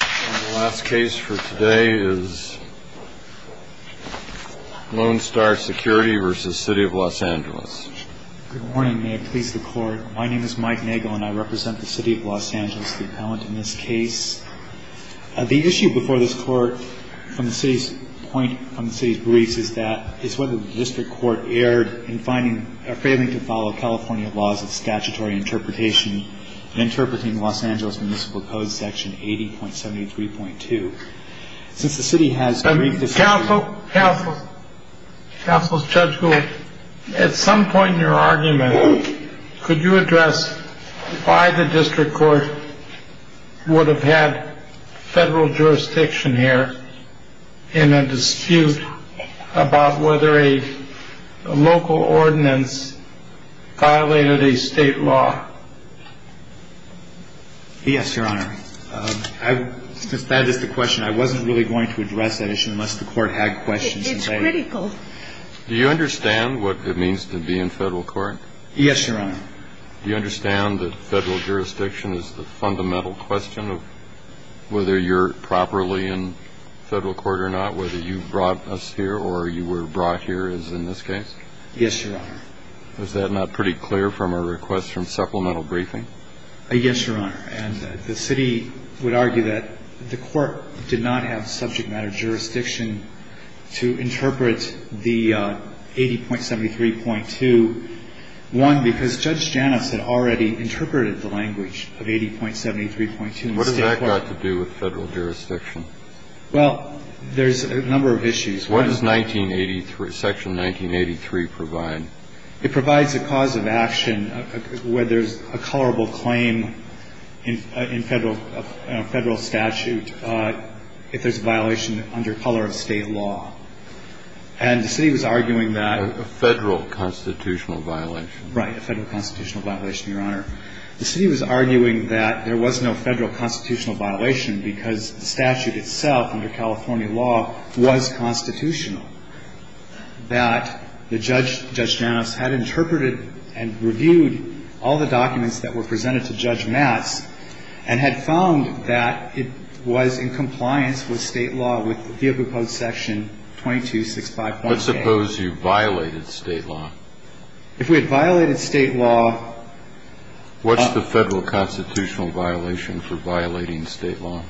The last case for today is Lone Star Security v. City of Los Angeles. Good morning. May it please the Court. My name is Mike Nagel, and I represent the City of Los Angeles, the appellant in this case. The issue before this Court from the City's point, from the City's briefs, is that it's whether the District Court erred in finding or failing to follow California laws of statutory interpretation in interpreting the Los Angeles Municipal Code, Section 80.73.2. Since the City has briefed the City... Counsel, Counsel, Counsel Judge Gould, at some point in your argument, could you address why the District Court would have had federal jurisdiction here in a dispute about whether a local ordinance violated a state law? Yes, Your Honor. Since that is the question, I wasn't really going to address that issue unless the Court had questions. It's critical. Do you understand what it means to be in federal court? Yes, Your Honor. Do you understand that federal jurisdiction is the fundamental question of whether you're properly in federal court or not, whether you brought us here or you were brought here, as in this case? Yes, Your Honor. Is that not pretty clear from a request from supplemental briefing? Yes, Your Honor. And the City would argue that the Court did not have subject matter jurisdiction to interpret the 80.73.2. One, because Judge Janis had already interpreted the language of 80.73.2. What has that got to do with federal jurisdiction? Well, there's a number of issues. What does Section 1983 provide? It provides a cause of action where there's a colorable claim in federal statute if there's a violation under color of state law. And the City was arguing that ---- A federal constitutional violation. Right, a federal constitutional violation, Your Honor. The City was arguing that there was no federal constitutional violation because the statute itself under California law was constitutional, that Judge Janis had interpreted and reviewed all the documents that were presented to Judge Matz and had found that it was in compliance with state law with the field proposed Section 2265.8. Let's suppose you violated state law. If we had violated state law ---- What's the federal constitutional violation for violating state law?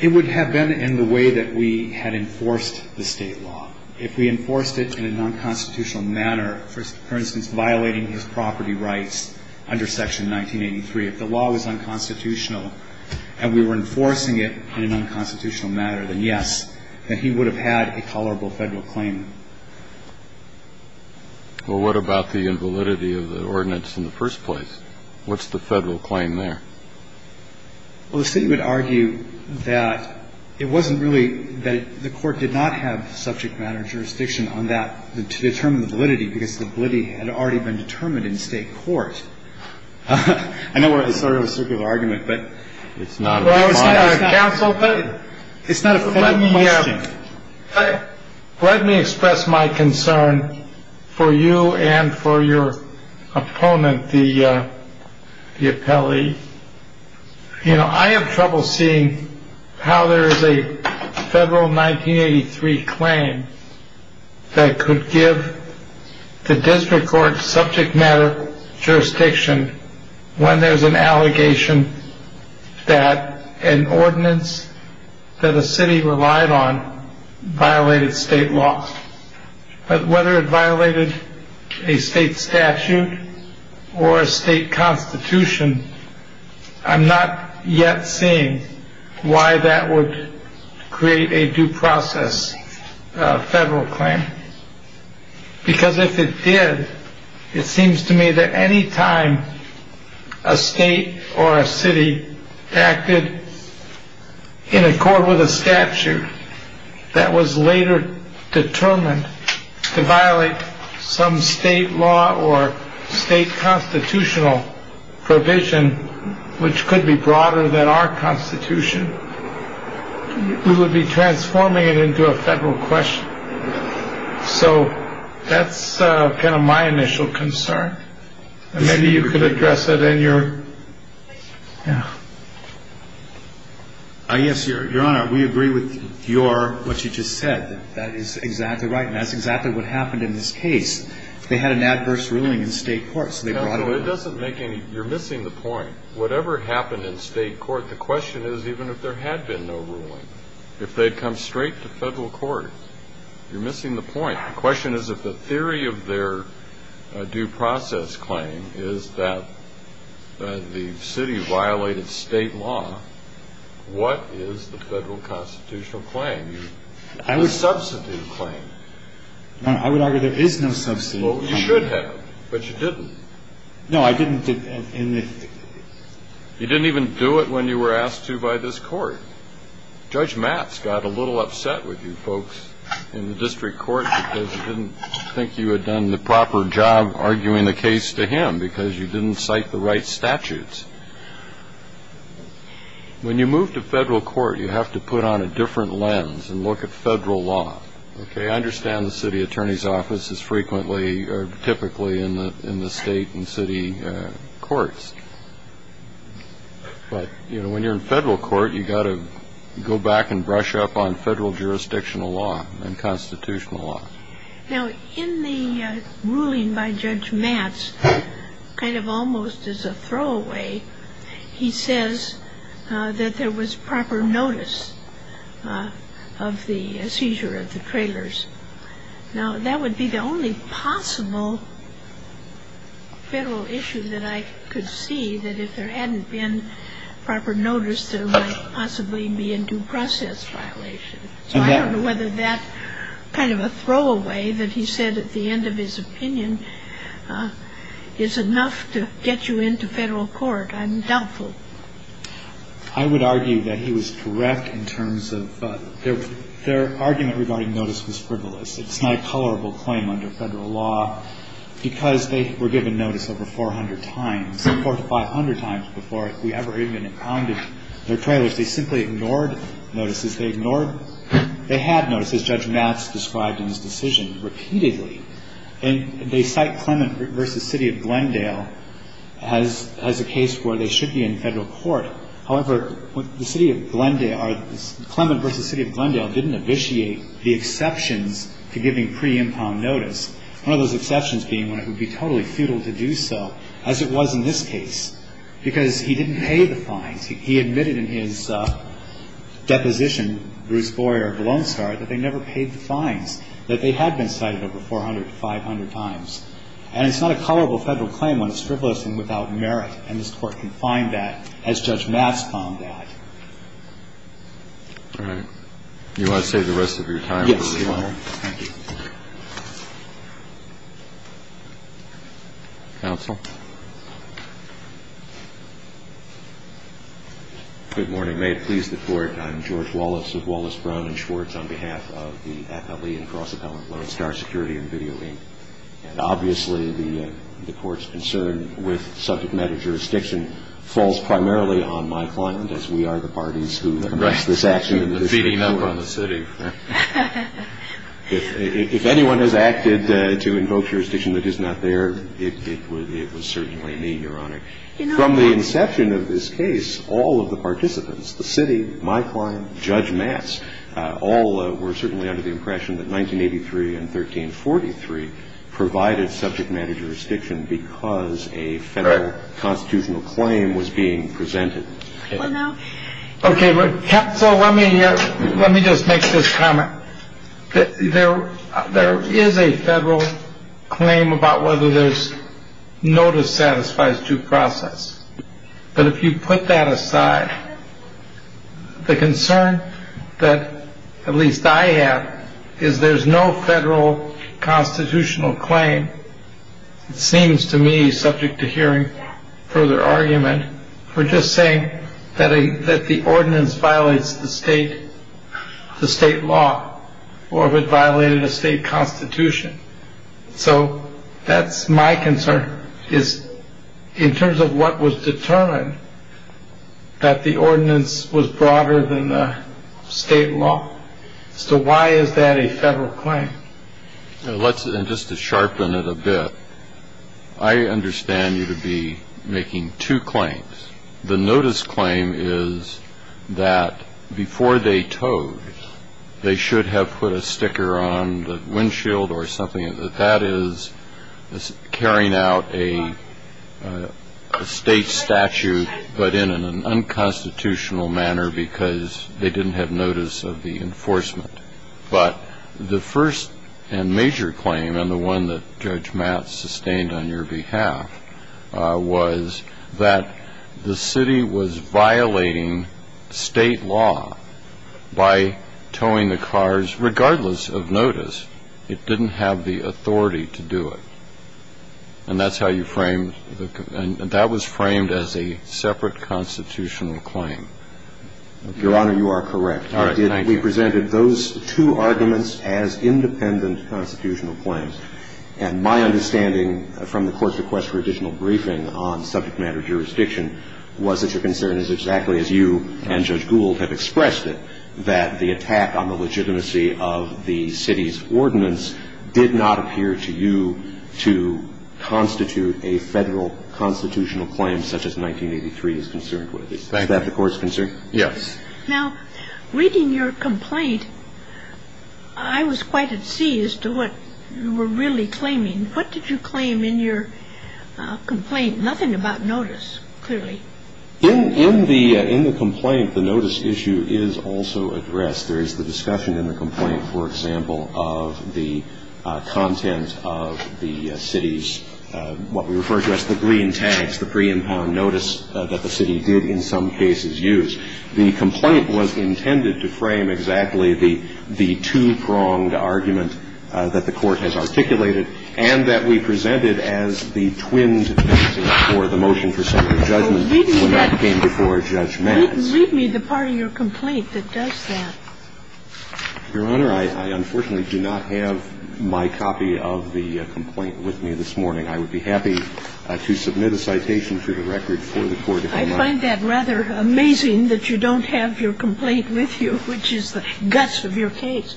It would have been in the way that we had enforced the state law. If we enforced it in a nonconstitutional manner, for instance, violating his property rights under Section 1983, if the law was unconstitutional and we were enforcing it in an unconstitutional manner, then yes, that he would have had a colorable federal claim. Well, what about the invalidity of the ordinance in the first place? What's the federal claim there? Well, the City would argue that it wasn't really ---- that the Court did not have subject matter jurisdiction on that to determine the validity because the validity had already been determined in state court. I know we're in sort of a circle of argument, but it's not a big deal. Well, it's not a federal question. Let me express my concern for you and for your opponent, the appellee. You know, I have trouble seeing how there is a federal 1983 claim that could give the district court subject matter jurisdiction when there's an allegation that an ordinance that a city relied on violated state law. But whether it violated a state statute or a state constitution, I'm not yet seeing why that would create a due process federal claim. Because if it did, it seems to me that any time a state or a city acted in accord with a statute that was later determined to violate some state law or state constitutional provision, which could be broader than our constitution, we would be transforming it into a federal question. So that's kind of my initial concern. And maybe you could address it in your ---- Yes, Your Honor, we agree with what you just said. That is exactly right, and that's exactly what happened in this case. They had an adverse ruling in state court, so they brought it up. Well, it doesn't make any ---- you're missing the point. Whatever happened in state court, the question is even if there had been no ruling, if they'd come straight to federal court, you're missing the point. The question is if the theory of their due process claim is that the city violated state law, what is the federal constitutional claim? A substitute claim. I would argue there is no substitute. Well, you should have, but you didn't. No, I didn't. You didn't even do it when you were asked to by this court. Judge Matz got a little upset with you folks in the district court because he didn't think you had done the proper job arguing the case to him because you didn't cite the right statutes. When you move to federal court, you have to put on a different lens and look at federal law. Okay, I understand the city attorney's office is frequently or typically in the state and city courts. But, you know, when you're in federal court, you've got to go back and brush up on federal jurisdictional law and constitutional law. Now, in the ruling by Judge Matz, kind of almost as a throwaway, he says that there was proper notice of the seizure of the trailers. Now, that would be the only possible federal issue that I could see, that if there hadn't been proper notice, there might possibly be a due process violation. So I don't know whether that kind of a throwaway that he said at the end of his opinion is enough to get you into federal court. I'm doubtful. I would argue that he was correct in terms of their argument regarding notice was frivolous. It's not a colorable claim under federal law. Because they were given notice over 400 times, 400 to 500 times before we ever even impounded their trailers, they simply ignored notices. They had notices, Judge Matz described in his decision, repeatedly. And they cite Clement v. City of Glendale as a case where they should be in federal court. However, the City of Glendale or Clement v. City of Glendale didn't abitiate the exceptions to giving pre-impound notice, one of those exceptions being when it would be totally futile to do so, as it was in this case, because he didn't pay the fines. He admitted in his deposition, Bruce Boyer of Lone Star, that they never paid the fines, that they had been cited over 400 to 500 times. And it's not a colorable federal claim when it's frivolous and without merit. And this Court can find that, as Judge Matz found that. All right. Do you want to save the rest of your time? Yes, Your Honor. Counsel? Good morning. May it please the Court. I'm George Wallace of Wallace, Brown and Schwartz on behalf of the Appellee and Cross-Appellant Lone Star Security and Video, Inc. And obviously, the Court's concern with subject matter jurisdiction falls primarily on my client, as we are the parties who commenced this action in this case. Right. The feeding up on the City. If anyone has acted to invoke jurisdiction that is not there, it was certainly me, Your Honor. From the inception of this case, all of the participants, the City, my client, Judge Matz, all were certainly under the impression that 1983 and 1343 provided subject matter jurisdiction because a federal constitutional claim was being presented. Well, no. Okay. So let me just make this comment. There is a federal claim about whether there's notice satisfies due process. But if you put that aside, the concern that at least I have is there's no federal constitutional claim. It seems to me, subject to hearing further argument, we're just saying that the ordinance violates the state, the state law, or if it violated a state constitution. So that's my concern, is in terms of what was determined, that the ordinance was broader than the state law. So why is that a federal claim? Just to sharpen it a bit, I understand you to be making two claims. The notice claim is that before they towed, they should have put a sticker on the windshield or something, that that is carrying out a state statute, but in an unconstitutional manner because they didn't have notice of the enforcement. But the first and major claim, and the one that Judge Matt sustained on your behalf, was that the city was violating state law by towing the cars regardless of notice. It didn't have the authority to do it. And that's how you framed the – that was framed as a separate constitutional claim. Your Honor, you are correct. All right. Thank you. We presented those two arguments as independent constitutional claims. And my understanding from the Court's request for additional briefing on subject matter jurisdiction was that your concern is exactly as you and Judge Gould have expressed it, that the attack on the legitimacy of the city's ordinance did not appear to you to constitute a federal constitutional claim such as 1983 is concerned with. Is that the Court's concern? Yes. Now, reading your complaint, I was quite at sea as to what you were really claiming. What did you claim in your complaint? Nothing about notice, clearly. In the complaint, the notice issue is also addressed. There is the discussion in the complaint, for example, of the content of the city's what we refer to as the glean tags, the pre-impound notice that the city did in some cases use. The complaint was intended to frame exactly the two-pronged argument that the Court has articulated and that we presented as the twinned basis for the motion for central judgment when that came before Judge Matz. Read me the part of your complaint that does that. Your Honor, I unfortunately do not have my copy of the complaint with me this morning. I would be happy to submit a citation to the record for the Court if I might. I find that rather amazing that you don't have your complaint with you, which is the guts of your case.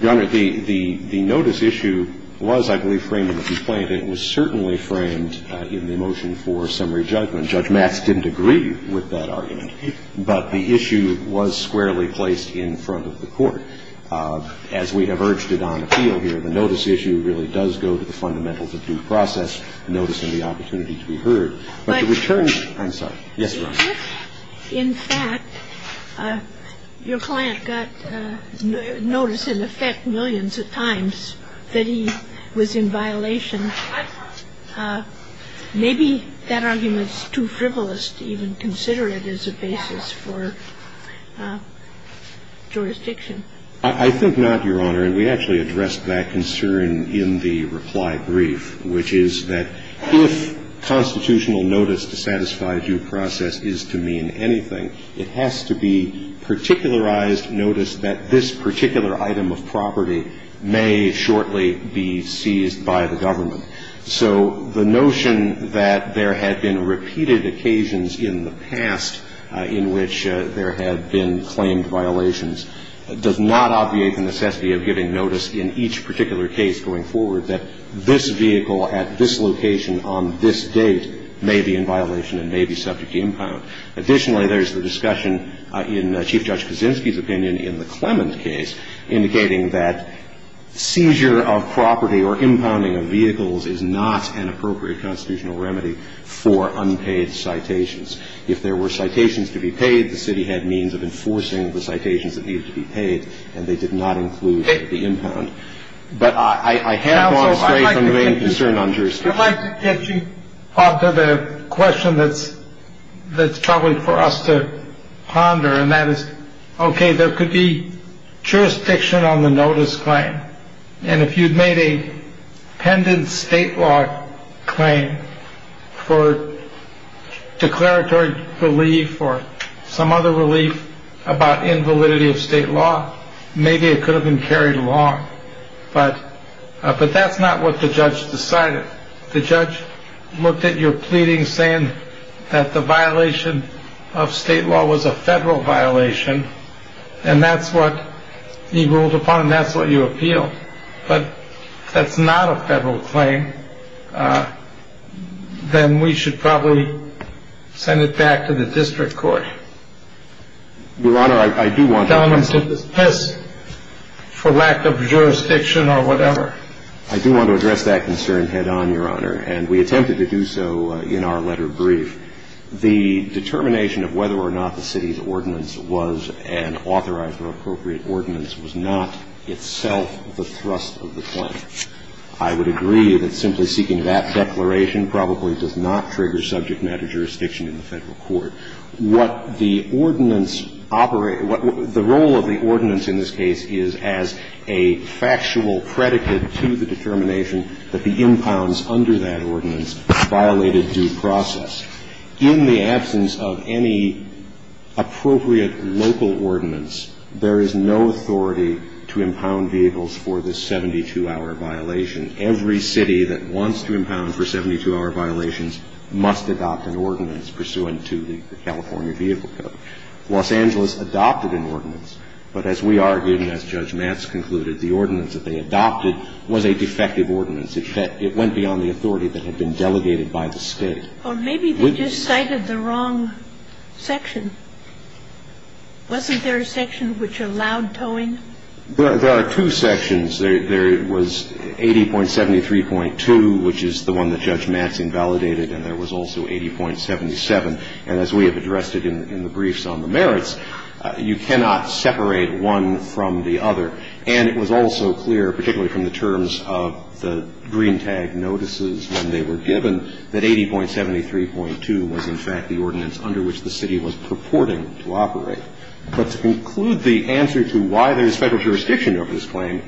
Your Honor, the notice issue was, I believe, framed in the complaint. It was certainly framed in the motion for summary judgment. Judge Matz didn't agree with that argument, but the issue was squarely placed in front of the Court. As we have urged it on appeal here, the notice issue really does go to the fundamentals of due process, notice, and the opportunity to be heard. But the return to the question. I'm sorry. Yes, Your Honor. In fact, your client got notice in effect millions of times that he was in violation. Maybe that argument is too frivolous to even consider it as a basis for jurisdiction. I think not, Your Honor. I think it's not. I think it's a good argument to consider. I think it's a good argument to consider. We actually addressed that concern in the reply brief, which is that if constitutional notice to satisfy due process is to mean anything, it has to be particularized notice that this particular item of property may shortly be seized by the government. So the notion that there had been repeated occasions in the past in which there had been claimed violations does not obviate the necessity of giving notice in each particular case going forward that this vehicle at this location on this date may be in violation and may be subject to impound. Additionally, there's the discussion in Chief Judge Kaczynski's opinion in the Clement case indicating that seizure of property or impounding of vehicles is not an appropriate constitutional remedy for unpaid citations. If there were citations to be paid, the city had means of enforcing the citations that needed to be paid, and they did not include the impound. But I have gone straight from the main concern on jurisdiction. I'd like to get you off to the question that's troubling for us to ponder, and that is, OK, there could be jurisdiction on the notice claim. And if you'd made a pendant state law claim for declaratory relief or some other relief about invalidity of state law, maybe it could have been carried along. But but that's not what the judge decided. The judge looked at your pleading saying that the violation of state law was a federal violation, and that's what he ruled upon, and that's what you appealed. But if that's not a federal claim, then we should probably send it back to the district court. Your Honor, I do want to address this. For lack of jurisdiction or whatever. I do want to address that concern head-on, Your Honor, and we attempted to do so in our letter brief. The determination of whether or not the city's ordinance was an authorized or appropriate ordinance was not itself the thrust of the claim. I would agree that simply seeking that declaration probably does not trigger subject matter jurisdiction in the Federal court. What the ordinance operates – the role of the ordinance in this case is as a factual predicate to the determination that the impounds under that ordinance violated due process. In the absence of any appropriate local ordinance, there is no authority to impound vehicles for this 72-hour violation. Every city that wants to impound for 72-hour violations must adopt an ordinance pursuant to the California Vehicle Code. Los Angeles adopted an ordinance. But as we argued and as Judge Matz concluded, the ordinance that they adopted was a defective ordinance. It went beyond the authority that had been delegated by the State. Or maybe they just cited the wrong section. Wasn't there a section which allowed towing? There are two sections. There was 80.73.2, which is the one that Judge Matz invalidated, and there was also 80.77. And as we have addressed it in the briefs on the merits, you cannot separate one from the other. And it was also clear, particularly from the terms of the green tag notices when they were given, that 80.73.2 was, in fact, the ordinance under which the city was purporting to operate. But to conclude the answer to why there is Federal jurisdiction over this claim,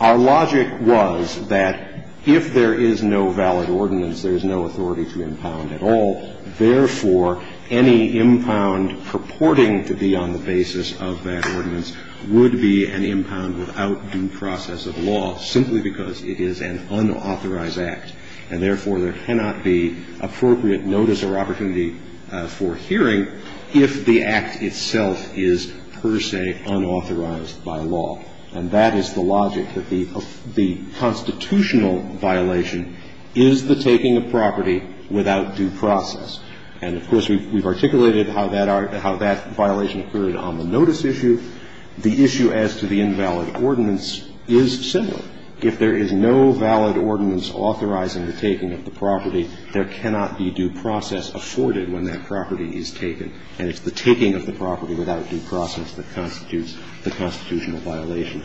our logic was that if there is no valid ordinance, there is no authority to impound at all. Therefore, any impound purporting to be on the basis of that ordinance would be an impound without due process of law, simply because it is an unauthorized act. And therefore, there cannot be appropriate notice or opportunity for hearing if the act itself is per se unauthorized by law. And that is the logic, that the constitutional violation is the taking of property without due process. And, of course, we've articulated how that violation occurred on the notice issue. The issue as to the invalid ordinance is similar. If there is no valid ordinance authorizing the taking of the property, there cannot be due process afforded when that property is taken, and it's the taking of the property without due process that constitutes the constitutional violation.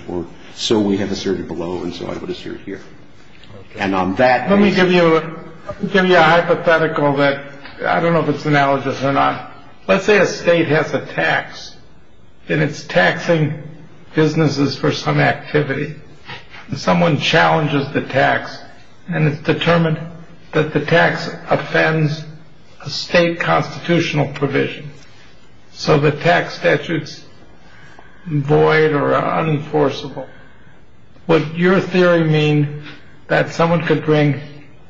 So we have asserted below, and so I would assert here. And on that. Let me give you a hypothetical that I don't know if it's analogous or not. Let's say a state has a tax, and it's taxing businesses for some activity. Someone challenges the tax, and it's determined that the tax offends a state constitutional provision, so the tax statutes void or unenforceable. Would your theory mean that someone could bring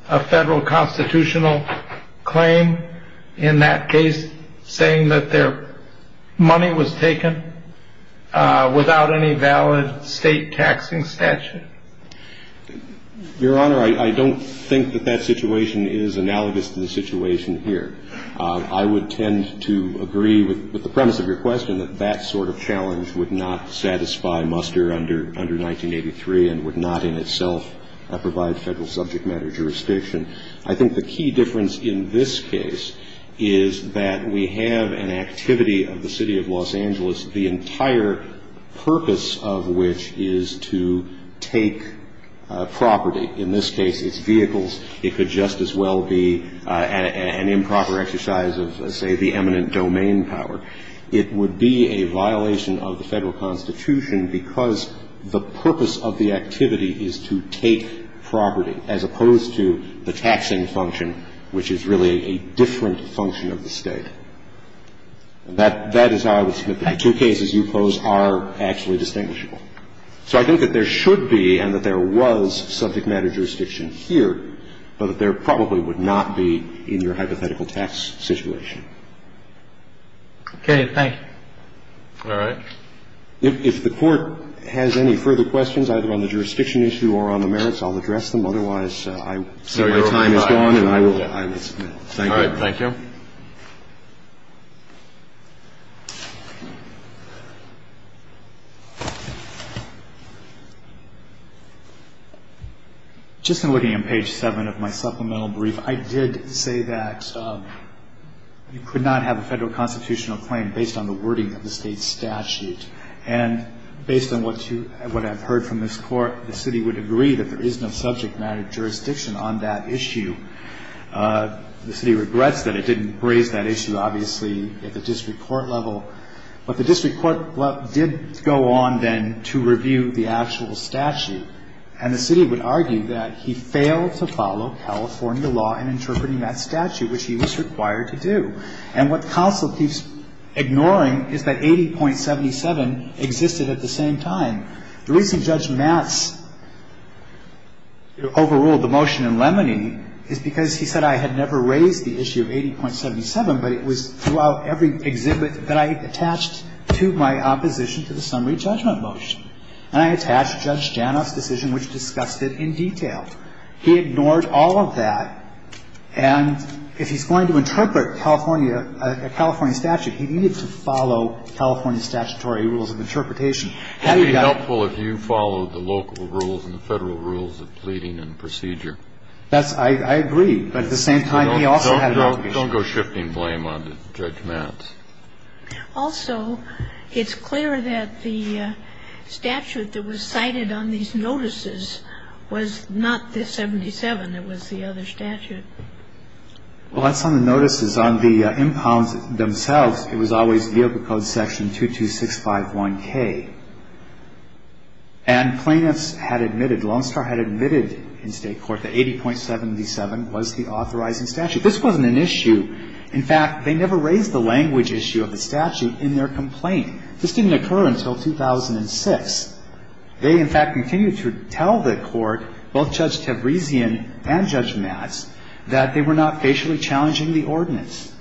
a federal constitutional claim in that case, saying that their money was taken without any valid state taxing statute? Your Honor, I don't think that that situation is analogous to the situation here. I would tend to agree with the premise of your question that that sort of challenge would not satisfy muster under 1983 and would not in itself provide federal subject matter jurisdiction. I think the key difference in this case is that we have an activity of the City of Los Angeles, the entire purpose of which is to take property. In this case, it's vehicles. It could just as well be an improper exercise of, say, the eminent domain power. It would be a violation of the Federal Constitution because the purpose of the activity is to take property, as opposed to the taxing function, which is really a different function of the State. That is how I would submit that the two cases you pose are actually distinguishable. So I think that there should be and that there was subject matter jurisdiction here, but that there probably would not be in your hypothetical tax situation. Thank you. Okay. Thank you. All right. If the Court has any further questions, either on the jurisdiction issue or on the merits, I'll address them. Otherwise, I see my time is gone, and I will. Thank you. All right. Thank you. Just in looking at page 7 of my supplemental brief, I did say that you could not have a Federal constitutional claim based on the wording of the State statute, and based on what you – what I've heard from this Court, the City would agree that there is no subject matter jurisdiction on that issue. The City regrets that it didn't raise that issue, obviously, at the time of the District Court level. But the District Court level did go on then to review the actual statute. And the City would argue that he failed to follow California law in interpreting that statute, which he was required to do. And what counsel keeps ignoring is that 80.77 existed at the same time. The reason Judge Matz overruled the motion in Lemony is because he said I had never raised the issue of 80.77, but it was throughout every exhibit that I attached to my opposition to the summary judgment motion. And I attached Judge Janoff's decision, which discussed it in detail. He ignored all of that. And if he's going to interpret California – a California statute, he needed to follow California statutory rules of interpretation. Had he got – It would be helpful if you followed the local rules and the Federal rules of pleading and procedure. That's – I agree. But at the same time, he also had an obligation. Don't go shifting blame on Judge Matz. Also, it's clear that the statute that was cited on these notices was not the 77. It was the other statute. Well, that's on the notices. On the impounds themselves, it was always vehicle code section 22651K. And plaintiffs had admitted – Lonestar had admitted in State court that 80.77 was the authorizing statute. This wasn't an issue. In fact, they never raised the language issue of the statute in their complaint. This didn't occur until 2006. They, in fact, continued to tell the court, both Judge Tabrizian and Judge Matz, that they were not facially challenging the ordinance.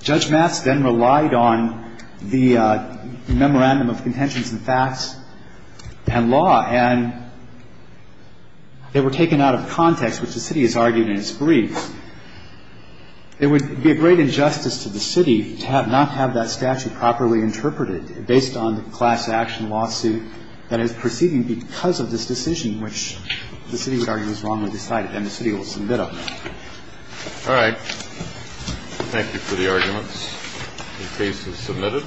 Judge Matz then relied on the memorandum of contentions and facts and law, and they were taken out of context, which the City has argued in its brief. It would be a great injustice to the City to have – not have that statute properly interpreted based on the class action lawsuit that is proceeding because of this decision, which the City would argue is wrongly decided, and the City will submit it. All right. Thank you for the arguments. The case is submitted.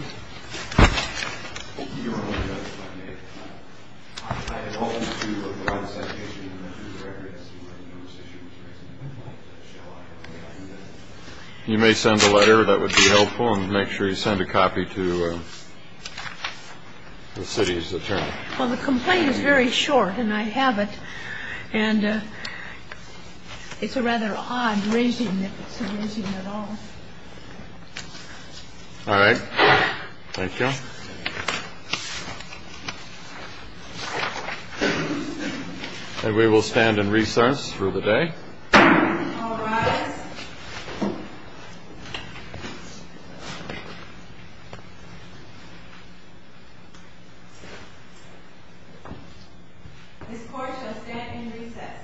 You may send a letter. That would be helpful. And make sure you send a copy to the City's attorney. Well, the complaint is very short, and I have it. And it's a rather odd raising, if it's a raising at all. All right. Thank you. And we will stand in recess for the day. All rise. This court shall stand in recess.